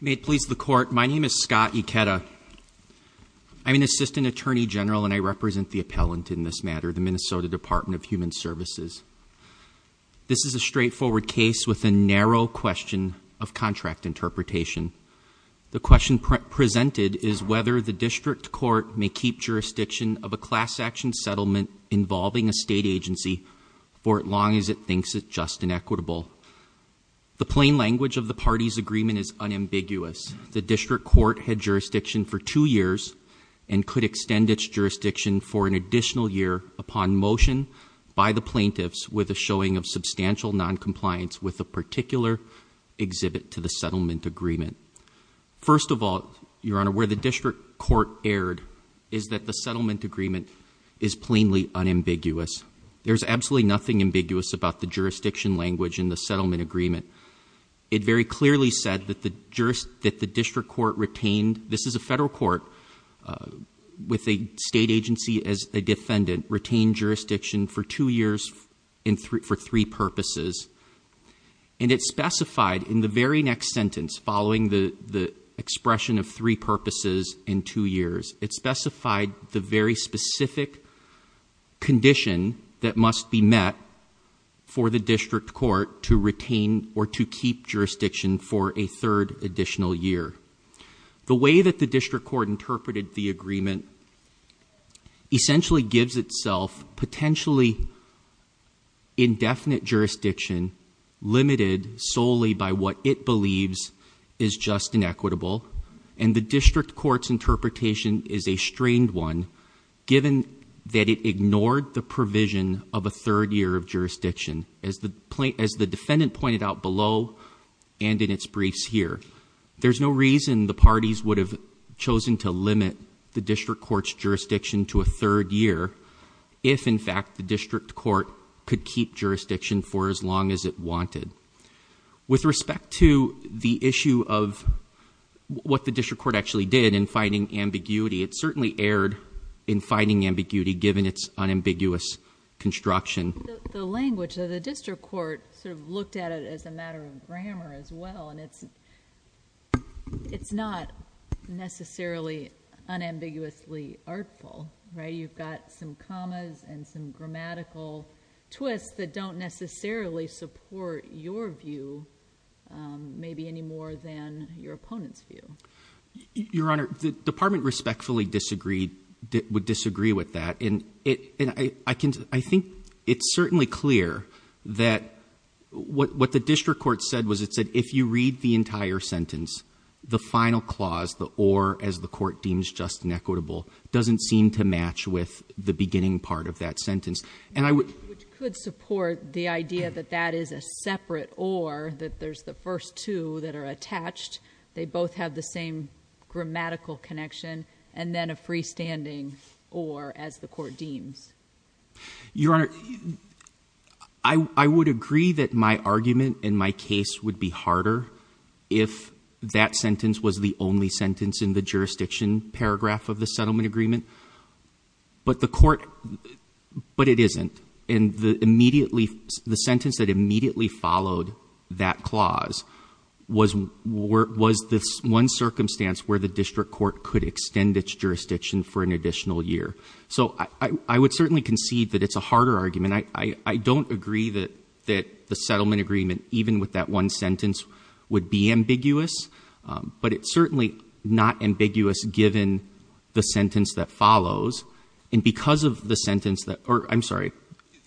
May it please the court, my name is Scott Ikeda. I'm an assistant attorney general and I represent the appellant in this matter, the Minnesota Department of Human Services. This is a straightforward case with a narrow question of contract interpretation. The question presented is whether the district court may keep jurisdiction of a class-action settlement involving a state agency for as long as it thinks it just and equitable. The plain language of the party's agreement is unambiguous. The district court had jurisdiction for two years and could extend its jurisdiction for an additional year upon motion by the plaintiffs with a showing of substantial non-compliance with a particular exhibit to the settlement agreement. First of all, your honor, where the district court erred is that the settlement agreement is plainly unambiguous. There's absolutely nothing ambiguous about the jurisdiction language in the settlement agreement. It very clearly said that the district court retained, this is a federal court with a state agency as a defendant, retained jurisdiction for two years for three purposes and it specified in the very next sentence following the expression of three purposes in two years, it specified the very specific condition that must be met for the district court to retain or to keep jurisdiction for a third additional year. The way that the district court interpreted the agreement essentially gives itself potentially indefinite jurisdiction limited solely by what it believes is just and equitable and the district court's interpretation is a strained one given that it ignored the provision of a third year of as the defendant pointed out below and in its briefs here. There's no reason the parties would have chosen to limit the district court's jurisdiction to a third year if in fact the district court could keep jurisdiction for as long as it wanted. With respect to the issue of what the district court actually did in finding ambiguity, it certainly erred in finding ambiguity given its unambiguous construction. The language of the district court sort of looked at it as a matter of grammar as well and it's it's not necessarily unambiguously artful, right? You've got some commas and some grammatical twists that don't necessarily support your view maybe any more than your opponent's view. Your Honor, the department respectfully disagreed that would disagree with that and it and I can I think it's certainly clear that what the district court said was it said if you read the entire sentence the final clause the or as the court deems just and equitable doesn't seem to match with the beginning part of that sentence and I would support the idea that that is a separate or that there's the first two that are attached they both have the same grammatical connection and then a freestanding or as the court deems. Your Honor, I would agree that my argument in my case would be harder if that sentence was the only sentence in the jurisdiction paragraph of the settlement agreement but the court but it isn't and the immediately the sentence that immediately followed that clause was was this one circumstance where the district court could extend its jurisdiction for an additional year. So I would certainly concede that it's a harder argument. I don't agree that that the settlement agreement even with that one sentence would be ambiguous but it's certainly not ambiguous given the sentence that follows and because of the sentence that or I'm sorry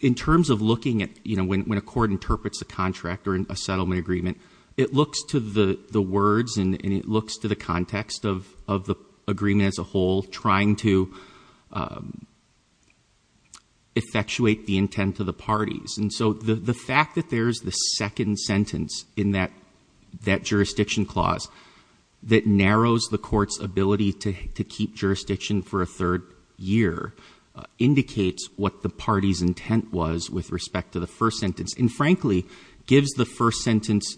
in terms of looking at you know when a court interprets a contract or in a settlement agreement it looks to the the words and it looks to the context of of the agreement as a whole trying to effectuate the intent of the parties and so the the fact that there's the second sentence in that that jurisdiction clause that narrows the court's ability to keep jurisdiction for a third year indicates what the party's intent was with respect to the first sentence and frankly gives the first sentence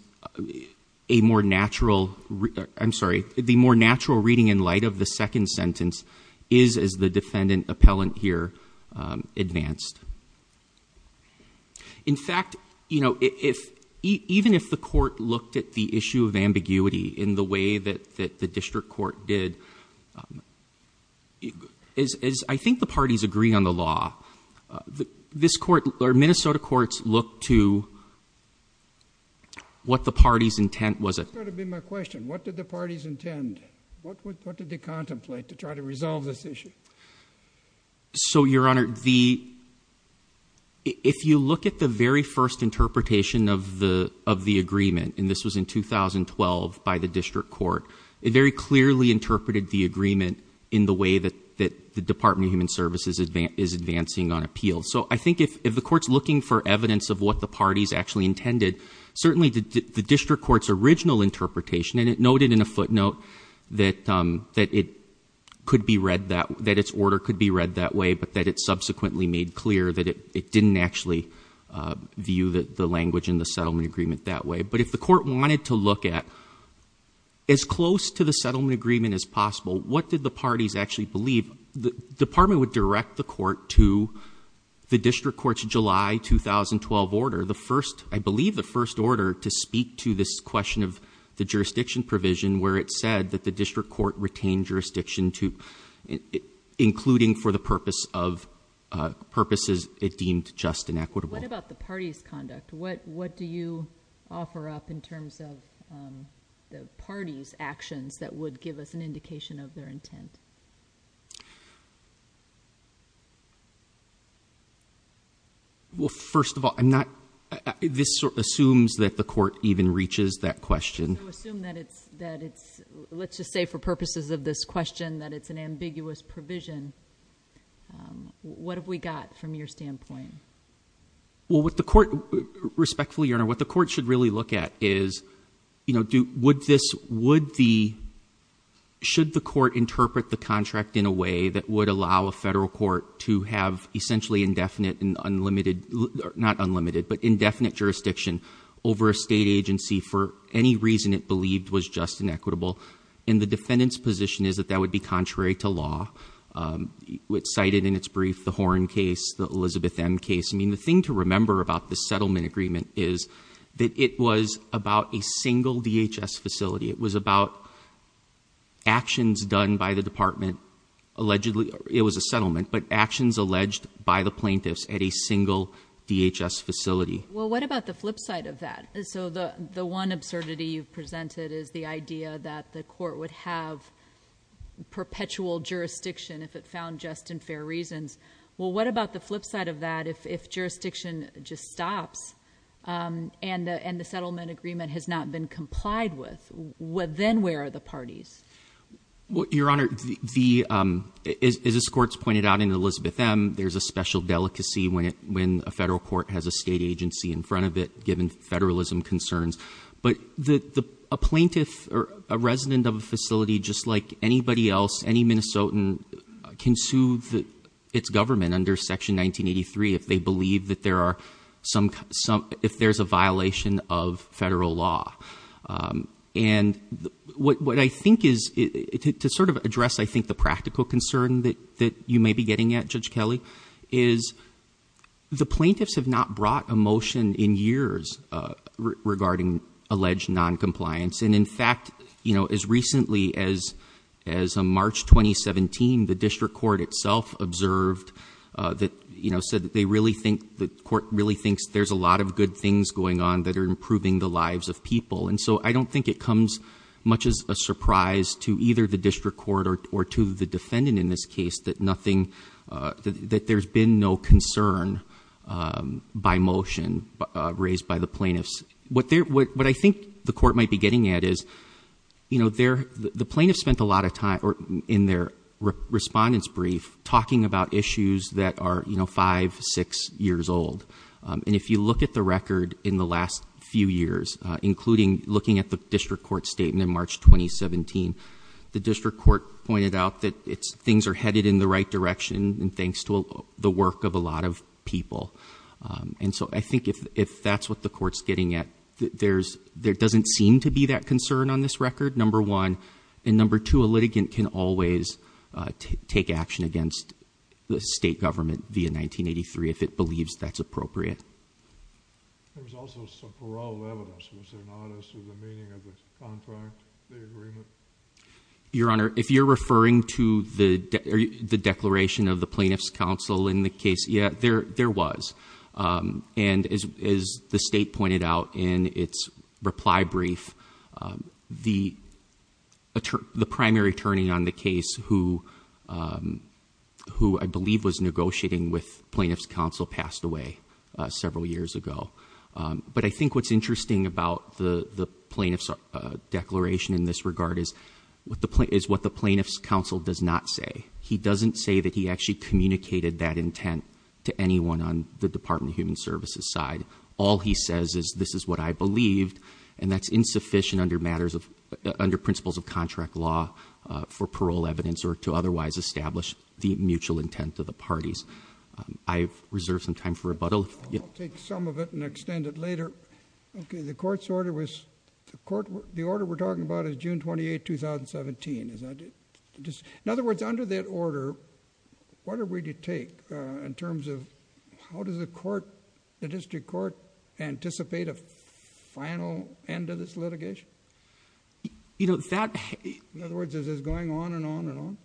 a more natural I'm sorry the more natural reading in light of the second sentence is as the defendant appellant here advanced. In fact you know if even if the court looked at the issue of ambiguity in the way that that the district court did is I think the courts look to what the party's intent was it so your honor the if you look at the very first interpretation of the of the agreement and this was in 2012 by the district court it very clearly interpreted the agreement in the way that that the Department of Human Services is advanced is advancing on appeal so I think if the courts looking for evidence of what the parties actually intended certainly the district court's original interpretation and it noted in a footnote that that it could be read that that its order could be read that way but that it subsequently made clear that it didn't actually view that the language in the settlement agreement that way but if the court wanted to look at as close to the settlement agreement as possible what did the parties actually believe the department would direct the court to the district court's July 2012 order the first I believe the first order to speak to this question of the jurisdiction provision where it said that the district court retained jurisdiction to including for the purpose of purposes it deemed just and equitable what about the party's conduct what what do you offer up in terms of the party's actions that would give us an indication of their intent well first of all I'm not this assumes that the court even reaches that question let's just say for purposes of this question that it's an ambiguous provision what have we got from your standpoint well what the court respectfully your honor what the court should really look at is you know do this would the should the court interpret the contract in a way that would allow a federal court to have essentially indefinite and unlimited not unlimited but indefinite jurisdiction over a state agency for any reason it believed was just inequitable in the defendants position is that that would be contrary to law which cited in its brief the horn case the Elizabeth M case I mean the thing to remember about the settlement agreement is that it was about a single DHS facility it was about actions done by the department allegedly it was a settlement but actions alleged by the plaintiffs at a single DHS facility well what about the flip side of that so the the one absurdity you've presented is the idea that the court would have perpetual jurisdiction if it found just and fair reasons well what about the flip side of if jurisdiction just stops and and the settlement agreement has not been complied with what then where are the parties what your honor the is this courts pointed out in Elizabeth M there's a special delicacy when it when a federal court has a state agency in front of it given federalism concerns but the plaintiff or a resident of a facility just like anybody else any Minnesotan can sue that its government under section 1983 if they believe that there are some some if there's a violation of federal law and what I think is it to sort of address I think the practical concern that that you may be getting at Judge Kelly is the plaintiffs have not brought a motion in years regarding alleged non-compliance and in fact you know as recently as as a March 2017 the district court itself observed that you know said that they really think the court really thinks there's a lot of good things going on that are improving the lives of people and so I don't think it comes much as a surprise to either the district court or to the defendant in this case that nothing that there's been no concern by motion raised by the plaintiffs what they're what I think the court might be getting at is you know they're the lot of time or in their respondents brief talking about issues that are you know five six years old and if you look at the record in the last few years including looking at the district court statement in March 2017 the district court pointed out that it's things are headed in the right direction and thanks to the work of a lot of people and so I think if if that's what the courts getting at there's there doesn't seem to be that concern on this record number one and number two a litigant can always take action against the state government via 1983 if it believes that's appropriate your honor if you're referring to the the declaration of the plaintiffs counsel in the case yeah there was and as the state pointed out in its reply brief the the primary attorney on the case who who I believe was negotiating with plaintiffs counsel passed away several years ago but I think what's interesting about the the plaintiffs declaration in this regard is what the point is what the plaintiffs counsel does not say he doesn't say that he actually communicated that intent to anyone on the Department of Human Services side all he says is this is what I believed and that's insufficient under matters of under principles of contract law for parole evidence or to otherwise establish the mutual intent of the parties I've reserved some time for rebuttal take some of it and extend it later okay the court's order was the court the order we're talking about is June 28 2017 is not just in other words under that order what are we to take in terms of how does the court the district court anticipate a final end of this litigation you know that in other words is going on and on and on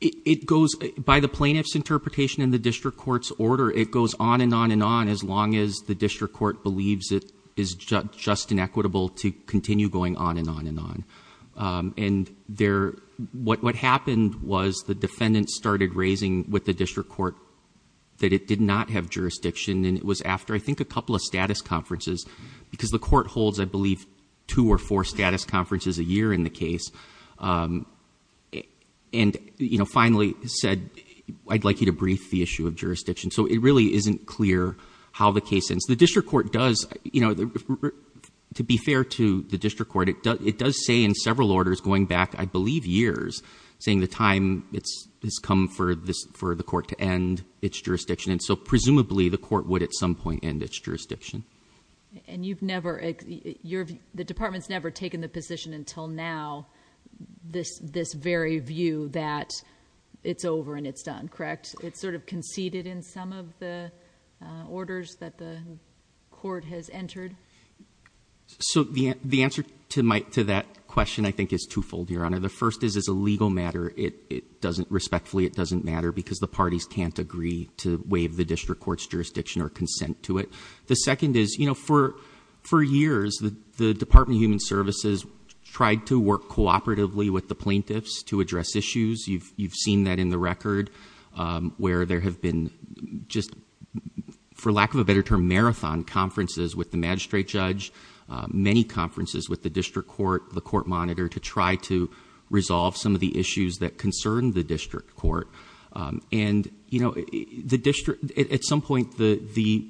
it goes by the plaintiffs interpretation in the district courts order it goes on and on and on as long as the district court believes it is just just inequitable to continue going on and on and on and there what what happened was the district court that it did not have jurisdiction and it was after I think a couple of status conferences because the court holds I believe two or four status conferences a year in the case and you know finally said I'd like you to brief the issue of jurisdiction so it really isn't clear how the case ends the district court does you know the to be fair to the district court it does it does say in several orders going back I believe years saying the time it's come for this for the court to end its jurisdiction and so presumably the court would at some point and its jurisdiction and you've never you're the department's never taken the position until now this this very view that it's over and it's done correct it's sort of conceded in some of the orders that the court has entered so the the answer to my to that question I think is twofold your honor the first is as a legal matter it it doesn't respectfully it doesn't matter because the parties can't agree to waive the district court's jurisdiction or consent to it the second is you know for four years the Department of Human Services tried to work cooperatively with the plaintiffs to address issues you've you've seen that in the record where there have been just for lack of a better term marathon conferences with the magistrate judge many conferences with the district court the court monitor to try to resolve some of the issues that concern the district court and you know the district at some point the the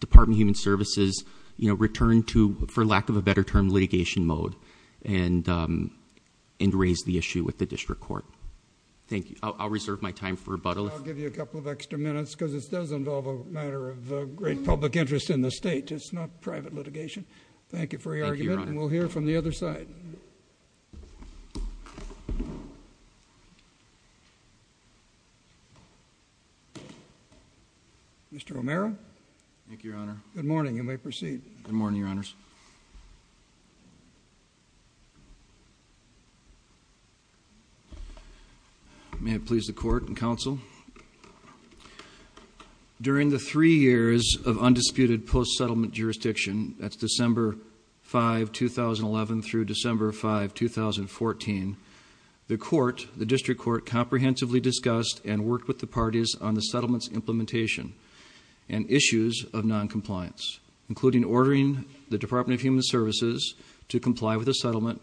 Department Human Services you know return to for lack of a better term litigation mode and and raise the issue with the district court thank you I'll reserve my time for a bottle of give you a couple of extra minutes because it does involve a matter of great public interest in the state it's not private litigation thank you for your argument and we'll hear from the other side mr. Romero thank you your honor good morning you may proceed good morning your honors may it please the court and counsel during the three years of undisputed post-settlement jurisdiction that's December 5 2011 through December 5 2014 the court the district court comprehensively discussed and worked with the parties on the settlements implementation and issues of non compliance including ordering the Department of Human Services to comply with a settlement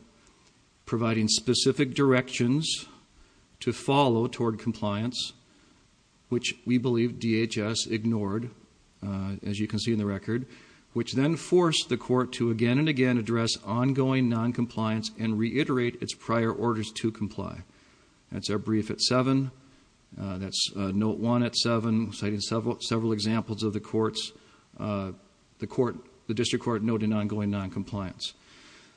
providing specific directions to follow toward compliance which we believe DHS ignored as you can see in the record which then forced the court to again and again address ongoing non-compliance and reiterate its prior orders to comply that's our brief at 7 that's note 1 at 7 citing several several examples of the courts the court the district court note in ongoing non-compliance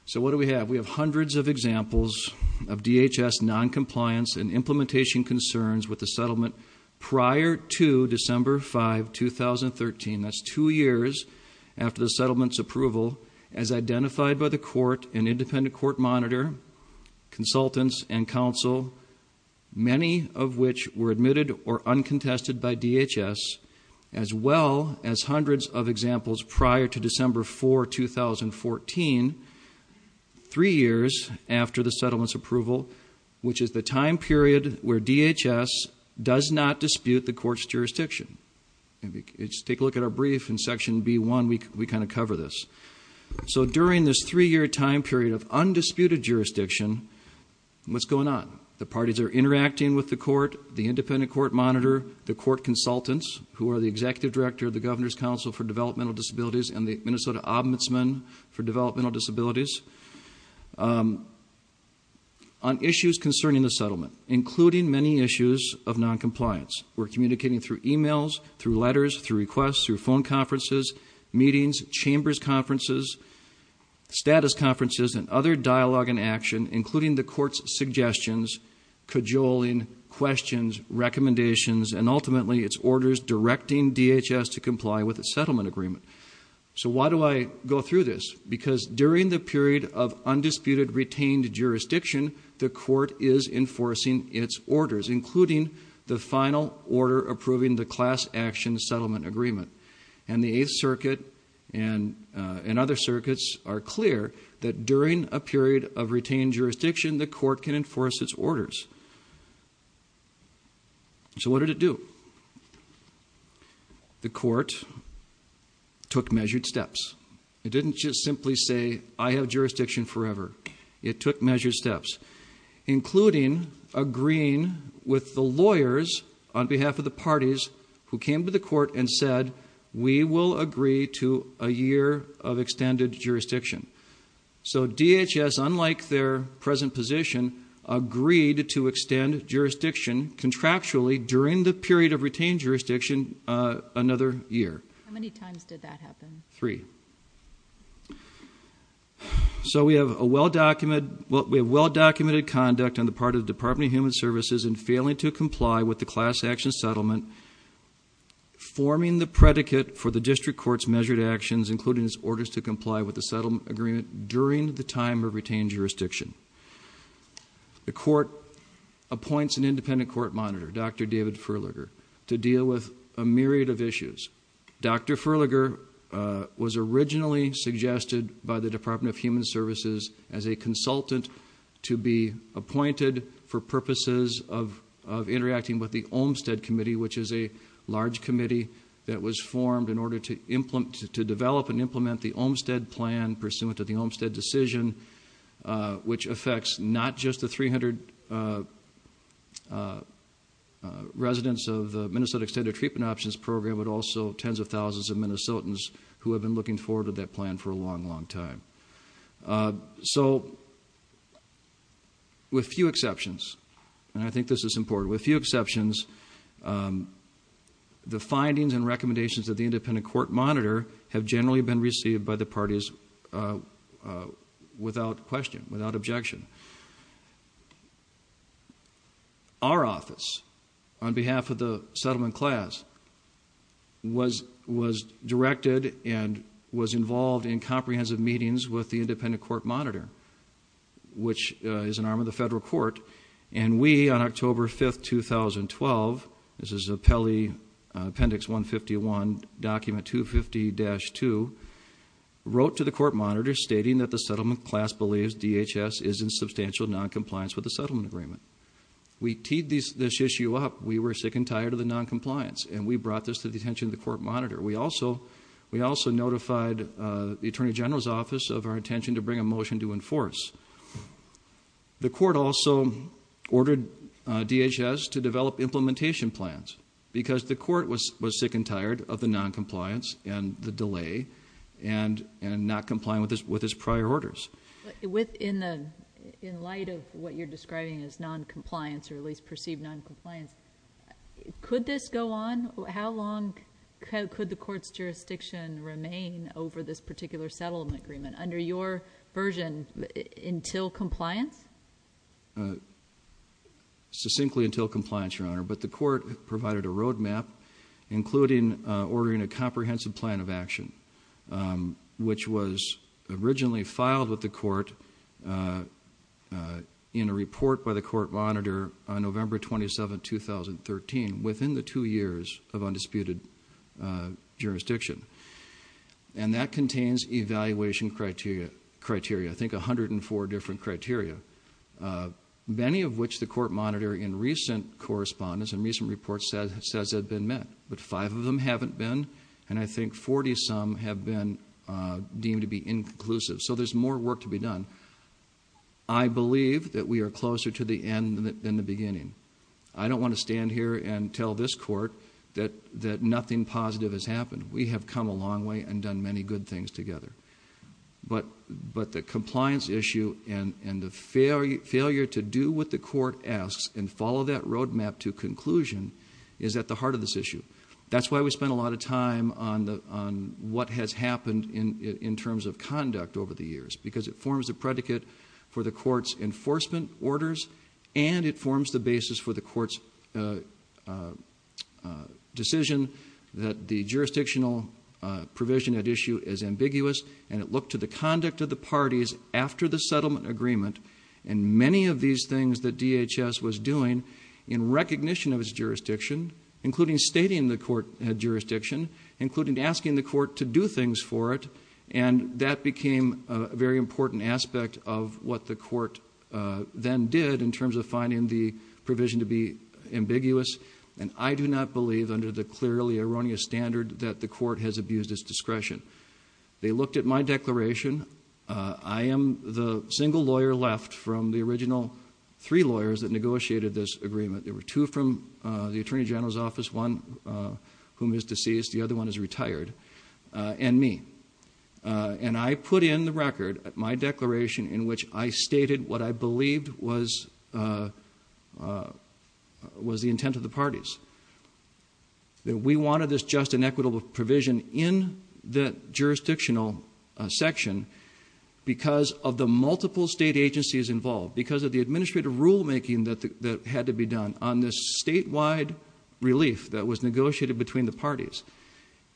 so what do we have we have hundreds of examples of DHS non-compliance and implementation concerns with the settlement prior to December 5 2013 that's two years after the settlements approval as identified by the court an independent court monitor consultants and counsel many of which were admitted or uncontested by DHS as well as hundreds of examples prior to December 4 2014 three years after the settlements approval which is the time period where DHS does not dispute the court's jurisdiction it's take a look at our brief in section b1 week we kind of cover this so during this three-year time period of undisputed jurisdiction what's going on the parties are interacting with the court the independent court monitor the court consultants who are the executive director of the governor's council for disabilities and the Minnesota Ombudsman for developmental disabilities on issues concerning the settlement including many issues of non-compliance we're communicating through emails through letters through requests through phone conferences meetings chambers conferences status conferences and other dialogue and action including the court's suggestions cajoling questions recommendations and ultimately its orders directing DHS to comply with a settlement agreement so why do I go through this because during the period of undisputed retained jurisdiction the court is enforcing its orders including the final order approving the class action settlement agreement and the eighth circuit and and other circuits are clear that during a period of retained jurisdiction the court can enforce its orders so what did it do the court took measured steps it didn't just simply say I have jurisdiction forever it took measured steps including agreeing with the lawyers on behalf of the parties who came to the court and said we will agree to a year of extended jurisdiction so DHS unlike their present position agreed to extend jurisdiction contractually during the period of retained jurisdiction another year three so we have a well-documented what we have well-documented conduct on the part of the Department of Human Services and failing to comply with the class action settlement forming the predicate for the district courts measured actions including its orders to comply with the settlement agreement during the time of independent court monitor dr. David Furliger to deal with a myriad of issues dr. Furliger was originally suggested by the Department of Human Services as a consultant to be appointed for purposes of interacting with the Olmstead committee which is a large committee that was formed in order to implement to develop and implement the Olmstead plan pursuant to the Olmstead decision which affects not just the 300 residents of the Minnesota extended treatment options program but also tens of thousands of Minnesotans who have been looking forward to that plan for a long long time so with few exceptions and I think this is important with few exceptions the findings and recommendations of the independent court monitor have generally been received by the parties without question without objection our office on behalf of the settlement class was was directed and was involved in comprehensive meetings with the independent court monitor which is an arm of the federal court and we on October 5th 2012 this is a Pelley appendix 151 document 250-2 wrote to the class believes DHS is in substantial non-compliance with the settlement agreement we teed this issue up we were sick and tired of the non-compliance and we brought this to the attention of the court monitor we also we also notified the Attorney General's office of our intention to bring a motion to enforce the court also ordered DHS to develop implementation plans because the court was was sick and tired of the non-compliance and the delay and and not comply with this with his prior orders with in the in light of what you're describing is non-compliance or at least perceived non-compliance could this go on how long could the court's jurisdiction remain over this particular settlement agreement under your version until compliance succinctly until compliance your honor but the court provided a road map including ordering a comprehensive plan of action which was originally filed with the court in a report by the court monitor on November 27 2013 within the two years of undisputed jurisdiction and that contains evaluation criteria criteria I think a hundred and four different criteria many of which the court monitor in recent correspondence and recent reports that has said they've been met but five of them haven't been and I think 40 some have been deemed to be inclusive so there's more work to be done I believe that we are closer to the end than the beginning I don't want to stand here and tell this court that that nothing positive has happened we have come a long way and done many good things together but but the compliance issue and and the failure failure to do what the court asks and follow that road map to conclusion is at the heart of the issue that's why we spent a lot of time on the on what has happened in in terms of conduct over the years because it forms a predicate for the court's enforcement orders and it forms the basis for the court's decision that the jurisdictional provision at issue is ambiguous and look to the conduct of the parties after the settlement agreement and many of these things that DHS was doing in recognition of his jurisdiction including stating the court jurisdiction including asking the court to do things for it and that became a very important aspect of what the court then did in terms of finding the provision to be ambiguous and I do not believe under the clearly erroneous standard that the court has abused its discretion they looked at my declaration I am the single lawyer left from the original three lawyers that negotiated this agreement there were two from the Attorney General's office one whom is deceased the other one is retired and me and I put in the record my declaration in which I stated what I believed was was the intent of the parties that we wanted this just and equitable provision in the jurisdictional section because of the multiple state agencies involved because of the administrative rulemaking that had to be done on this statewide relief that was negotiated between the parties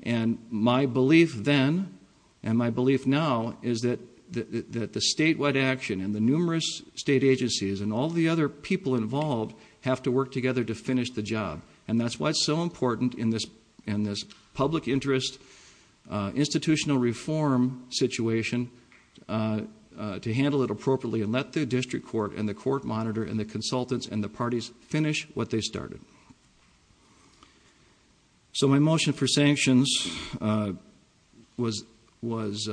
and my belief then and my belief now is that that the statewide action and the numerous state agencies and all the other people involved have to work together to finish the job and that's why it's so important in this in this public interest institutional reform situation to handle it appropriately and let the district court and the court monitor and the consultants and the parties finish what they started so my motion for sanctions was was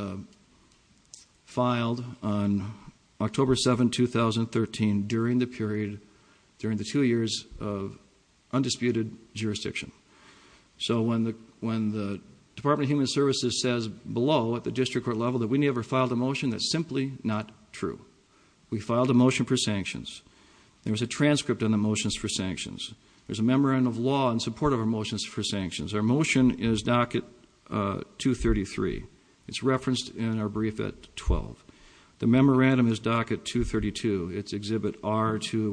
filed on October 7 2013 during the period during the two years of so when the when the Department of Human Services says below at the district court level that we never filed a motion that's simply not true we filed a motion for sanctions there was a transcript on the motions for sanctions there's a memorandum of law in support of our motions for sanctions our motion is docket 233 it's referenced in our brief at 12 the memorandum is docket 232 its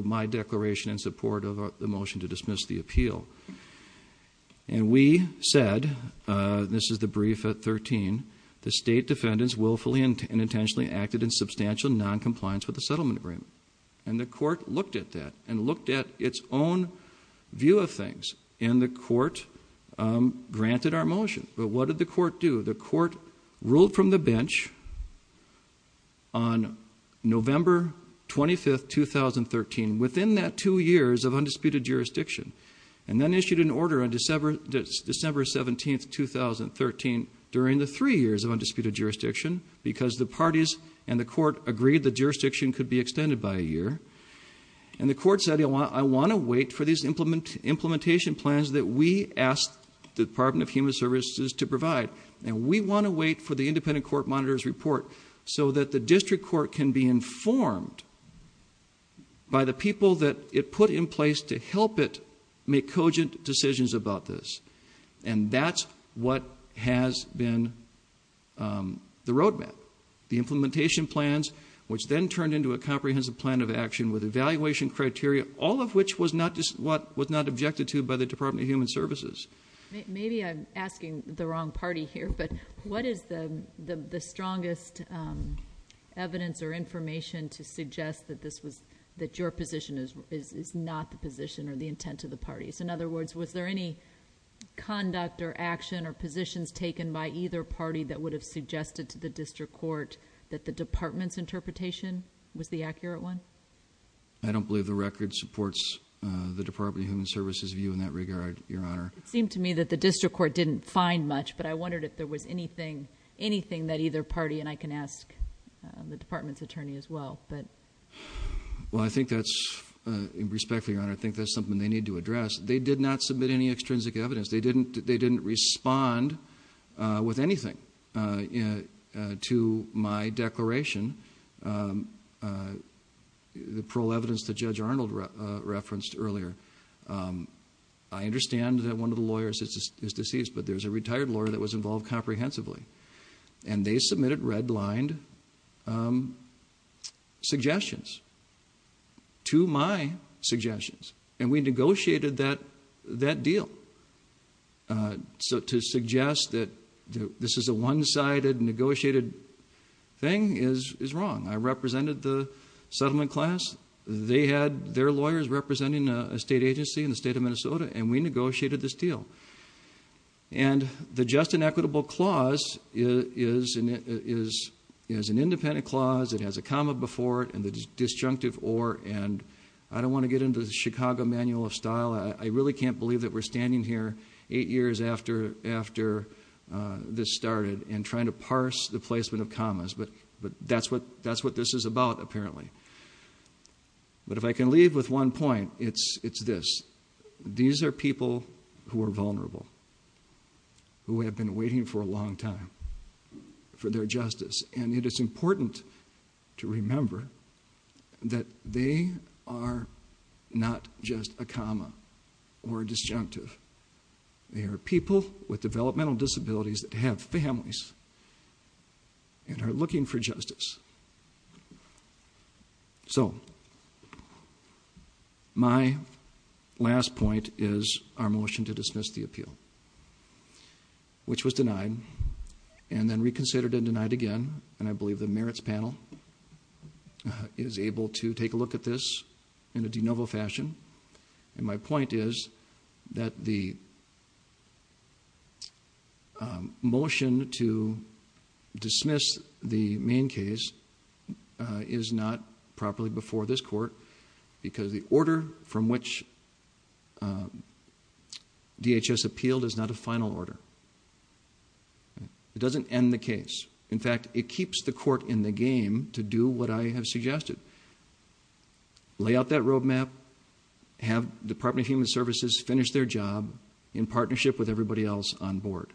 my declaration in support of the motion to dismiss the appeal and we said this is the brief at 13 the state defendants willfully and intentionally acted in substantial non-compliance with the settlement agreement and the court looked at that and looked at its own view of things in the court granted our motion but what did the court do the court ruled from the bench on November 25 2013 within that two years of undisputed jurisdiction and then issued an order on December December 17 2013 during the three years of undisputed jurisdiction because the parties and the court agreed the jurisdiction could be extended by a year and the court said I want to wait for these implement implementation plans that we asked the Department of Human Services to provide and we want to wait for the independent court monitors report so that the by the people that it put in place to help it make cogent decisions about this and that's what has been the roadmap the implementation plans which then turned into a comprehensive plan of action with evaluation criteria all of which was not just what was not objected to by the Department of Human Services maybe I'm asking the wrong party here but what is the the strongest evidence or evidence to suggest that this was that your position is is not the position or the intent of the parties in other words was there any conduct or action or positions taken by either party that would have suggested to the district court that the department's interpretation was the accurate one I don't believe the record supports the Department of Human Services view in that regard your honor it seemed to me that the district court didn't find much but I wondered if there was anything anything that either party and I can ask the department's attorney as well but well I think that's in respect to your honor I think that's something they need to address they did not submit any extrinsic evidence they didn't they didn't respond with anything you know to my declaration the parole evidence the judge Arnold referenced earlier I understand that one of the lawyers is deceased but there's a retired lawyer that was involved comprehensively and they submitted red lined suggestions to my suggestions and we negotiated that that deal so to suggest that this is a one-sided negotiated thing is is wrong I represented the settlement class they had their lawyers representing a state agency in the state of Minnesota and we negotiated this deal and the just inequitable clause is and it is is an independent clause it has a comma before it and the disjunctive or and I don't want to get into the Chicago manual of style I really can't believe that we're standing here eight years after after this started and trying to parse the placement of commas but but that's what that's what this is about apparently but if I can leave with one point it's it's these are people who are vulnerable who have been waiting for a long time for their justice and it is important to remember that they are not just a comma or disjunctive they are people with developmental disabilities that have families and are looking for justice so my last point is our motion to dismiss the appeal which was denied and then reconsidered and denied again and I believe the merits panel is able to take a look at this in a de novo fashion and my point is that the motion to dismiss the main case is not properly before this court because the order from which DHS appealed is not a final order it doesn't end the case in fact it keeps the court in the game to do what I have suggested. Lay out that road map have Department of Human Services finish their job in partnership with everybody else on board.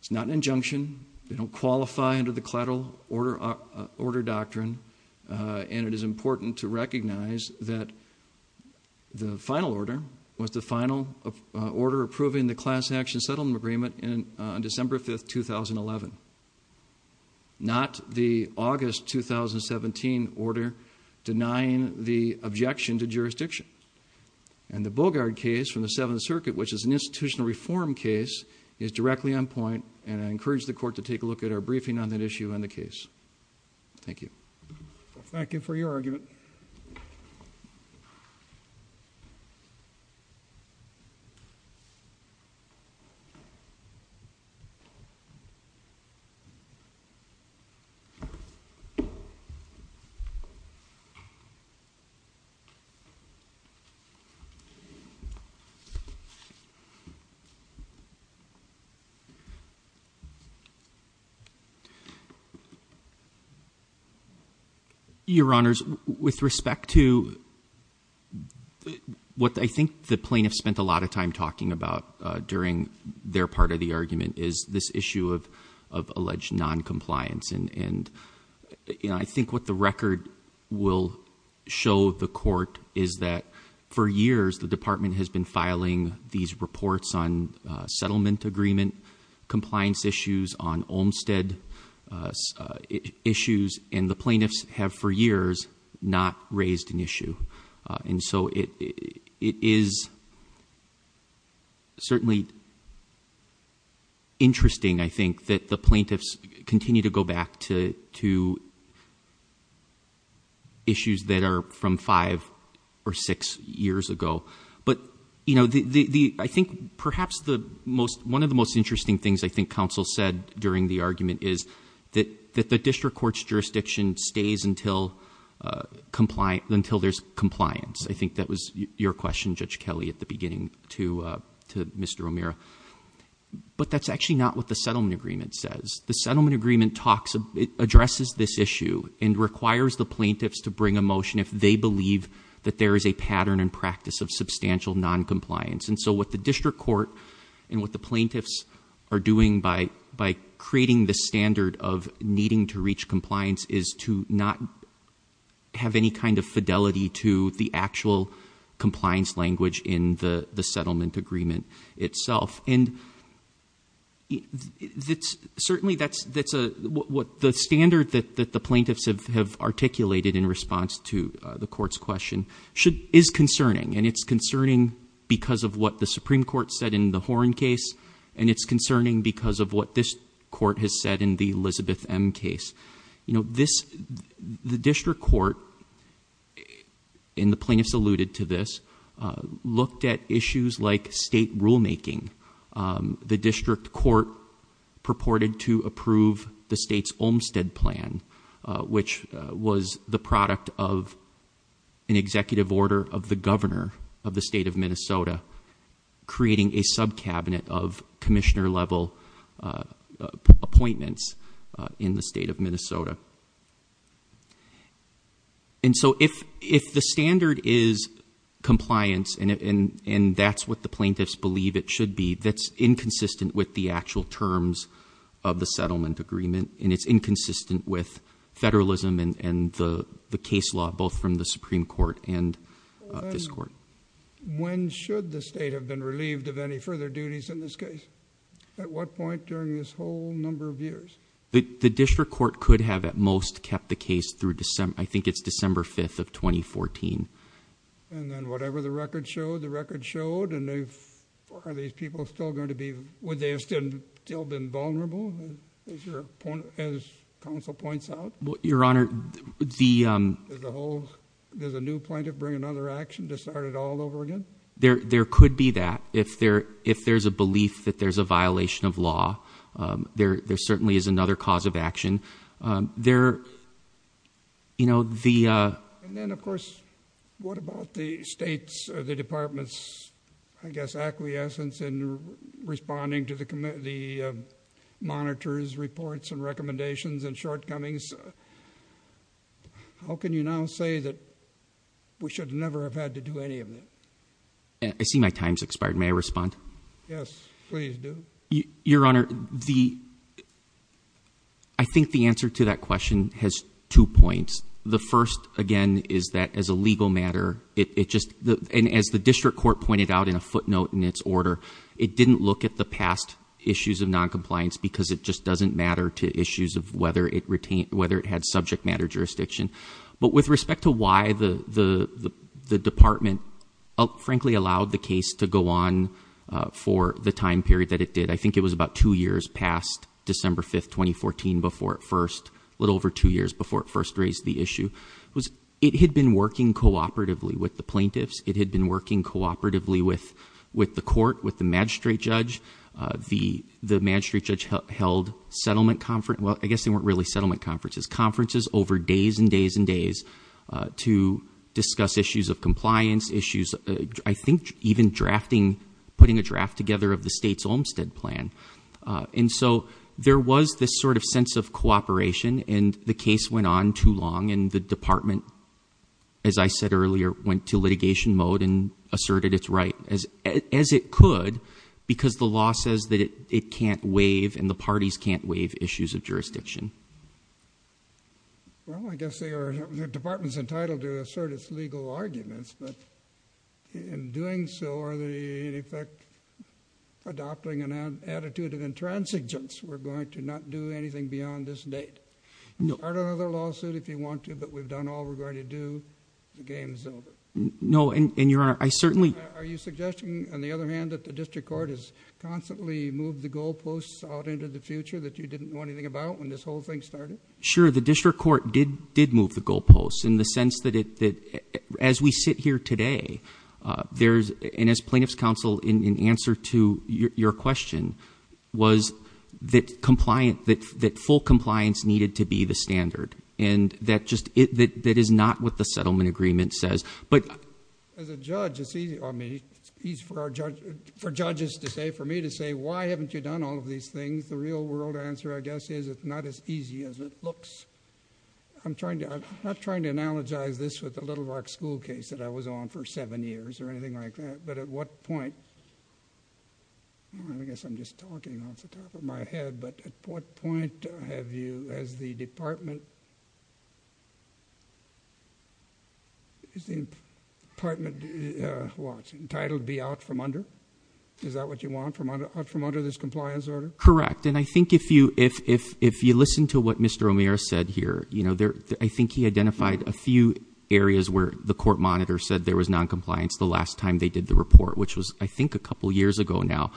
It's not an injunction they don't qualify under the collateral order doctrine and it is important to recognize that the final order was the final order approving the class action settlement agreement and on December 5th 2011 not the August 2017 order denying the objection to jurisdiction and the Bogart case from the Seventh Circuit which is an institutional reform case is directly on point and I encourage the court to take a look at our briefing on that issue in the case Thank you. Thank you for your argument. Your honors with respect to what I think the plaintiff spent a lot of time talking about during their part of the argument is this issue of of alleged non-compliance and and I think what the record will show the court is that for years the department has been filing these reports on settlement agreement compliance issues on Olmstead issues and the plaintiffs have for years not raised an issue and so it it is certainly interesting I think that the plaintiffs continue to go back to to issues that are from five or six years ago but you know the the I think perhaps the most one of the most interesting things I think counsel said during the argument is that that the district courts jurisdiction stays until compliant until there's compliance I think that was your question Judge Kelly at the beginning to to Mr. O'Meara but that's actually not what the settlement agreement says the settlement agreement talks of it addresses this issue and requires the plaintiffs to bring a of substantial non-compliance and so what the district court and what the plaintiffs are doing by by creating the standard of needing to reach compliance is to not have any kind of fidelity to the actual compliance language in the the settlement agreement itself and it's certainly that's that's a what the standard that that the plaintiffs have have articulated in response to the court's question should is concerning and it's concerning because of what the Supreme Court said in the Horne case and it's concerning because of what this court has said in the Elizabeth M case you know this the district court in the plaintiffs alluded to this looked at issues like state rulemaking the district court purported to approve the state's Olmstead plan which was the an executive order of the governor of the state of Minnesota creating a subcabinet of Commissioner level appointments in the state of Minnesota and so if if the standard is compliance and and and that's what the plaintiffs believe it should be that's inconsistent with the actual terms of the settlement agreement and it's inconsistent with federalism and and the the case law both from the Supreme Court and this court when should the state have been relieved of any further duties in this case at what point during this whole number of years the district court could have at most kept the case through December I think it's December 5th of 2014 and then whatever the record showed the record showed and they are these people still going to be would they have still been vulnerable as counsel points out what your honor the whole there's a new plaintiff bring another action to start it all over again there there could be that if there if there's a belief that there's a violation of law there there certainly is another cause of action there you know the then of course what about the state's the department's I guess acquiescence and responding to the the monitors reports and recommendations and shortcomings how can you now say that we should never have had to do any of it I see my time's expired may I respond yes your honor the I think the answer to that question has two points the first again is that as a legal matter it just and as the district court pointed out in a footnote in its order it didn't look at the past issues of non-compliance because it just doesn't matter to issues of whether it retained whether it had subject matter jurisdiction but with respect to why the the the department frankly allowed the case to go on for the time period that it did I think it was about two years past December 5th 2014 before it first little over two years before it first raised the issue was it had been working cooperatively with the plaintiffs it had been working cooperatively with with the court with the magistrate judge the the magistrate judge held settlement conference well I guess they weren't really settlement conferences conferences over days and days and days to discuss issues of compliance issues I think even drafting putting a draft together of the state's Olmstead plan and so there was this sort of sense of cooperation and the case went on too long and the department as I said earlier went to litigation mode and asserted it's right as as it could because the law says that it can't waive and the parties can't waive issues of jurisdiction well I guess they are the department's entitled to assert its legal arguments but in doing so are they in effect adopting an attitude of intransigence we're going to not do anything beyond this date no other lawsuit if you want to but we've done all we're going to do the game's over no and your honor I certainly are you suggesting on the other hand that the district court has constantly moved the goalposts out into the future that you didn't know anything about when this whole thing started sure the district court did did move the goalposts in the sense that it that as we sit here today there's and as plaintiffs counsel in answer to your question was that compliant that that full compliance needed to be the standard and that just it that that is not what the settlement agreement says but as a judge it's easy on me he's for our judge for judges to say for me to say why haven't you done all of these things the real world answer I guess is it's not as easy as it looks I'm trying to I'm not trying to analogize this with the Little Rock school case that I was on for seven years or anything like that but at what point I guess I'm just talking off the top of my head but at what point have you as the department is the apartment watch entitled be out from under is that what you want from under this compliance order correct and I think if you if if you listen to what mr. O'Meara said here you know there I think he identified a few areas where the court monitor said there was non-compliance the last time they did the report which was I think a couple years ago now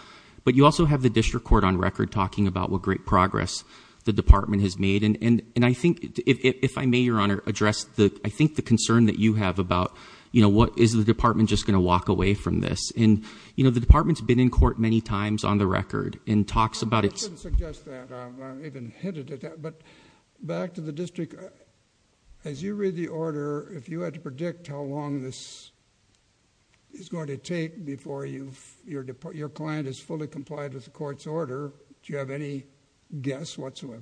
but you also have the district court on record talking about what great progress the department has made and and and I think if I may your honor address the I think the concern that you have about you know what is the department just going to walk away from this and you know the department's been in court many times on the record in talks about it but back to the district as you read the order if you had to predict how long this is going to take before you your client is fully complied with the court's order do you have any guess what's what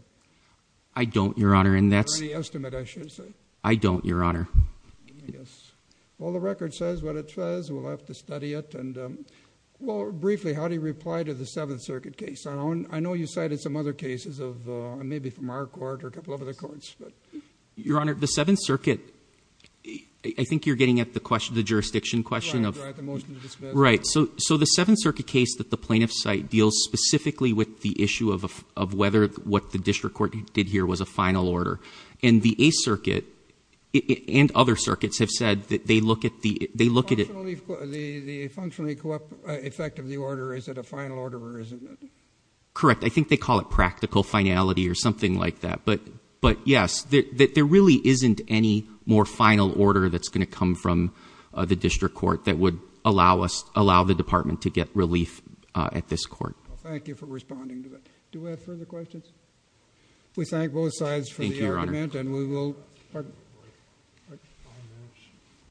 I don't your honor and that's the estimate I should say I don't your honor yes well the record says what it says we'll have to study it and well briefly how do you reply to the Seventh you cited some other cases of maybe from our court or couple of other courts but your honor the Seventh Circuit I think you're getting at the question the jurisdiction question of right so so the Seventh Circuit case that the plaintiff site deals specifically with the issue of whether what the district court did here was a final order and the a circuit and other circuits have said that they correct I think they call it practical finality or something like that but but yes that there really isn't any more final order that's going to come from the district court that would allow us allow the department to get relief at this court we thank both sides and we will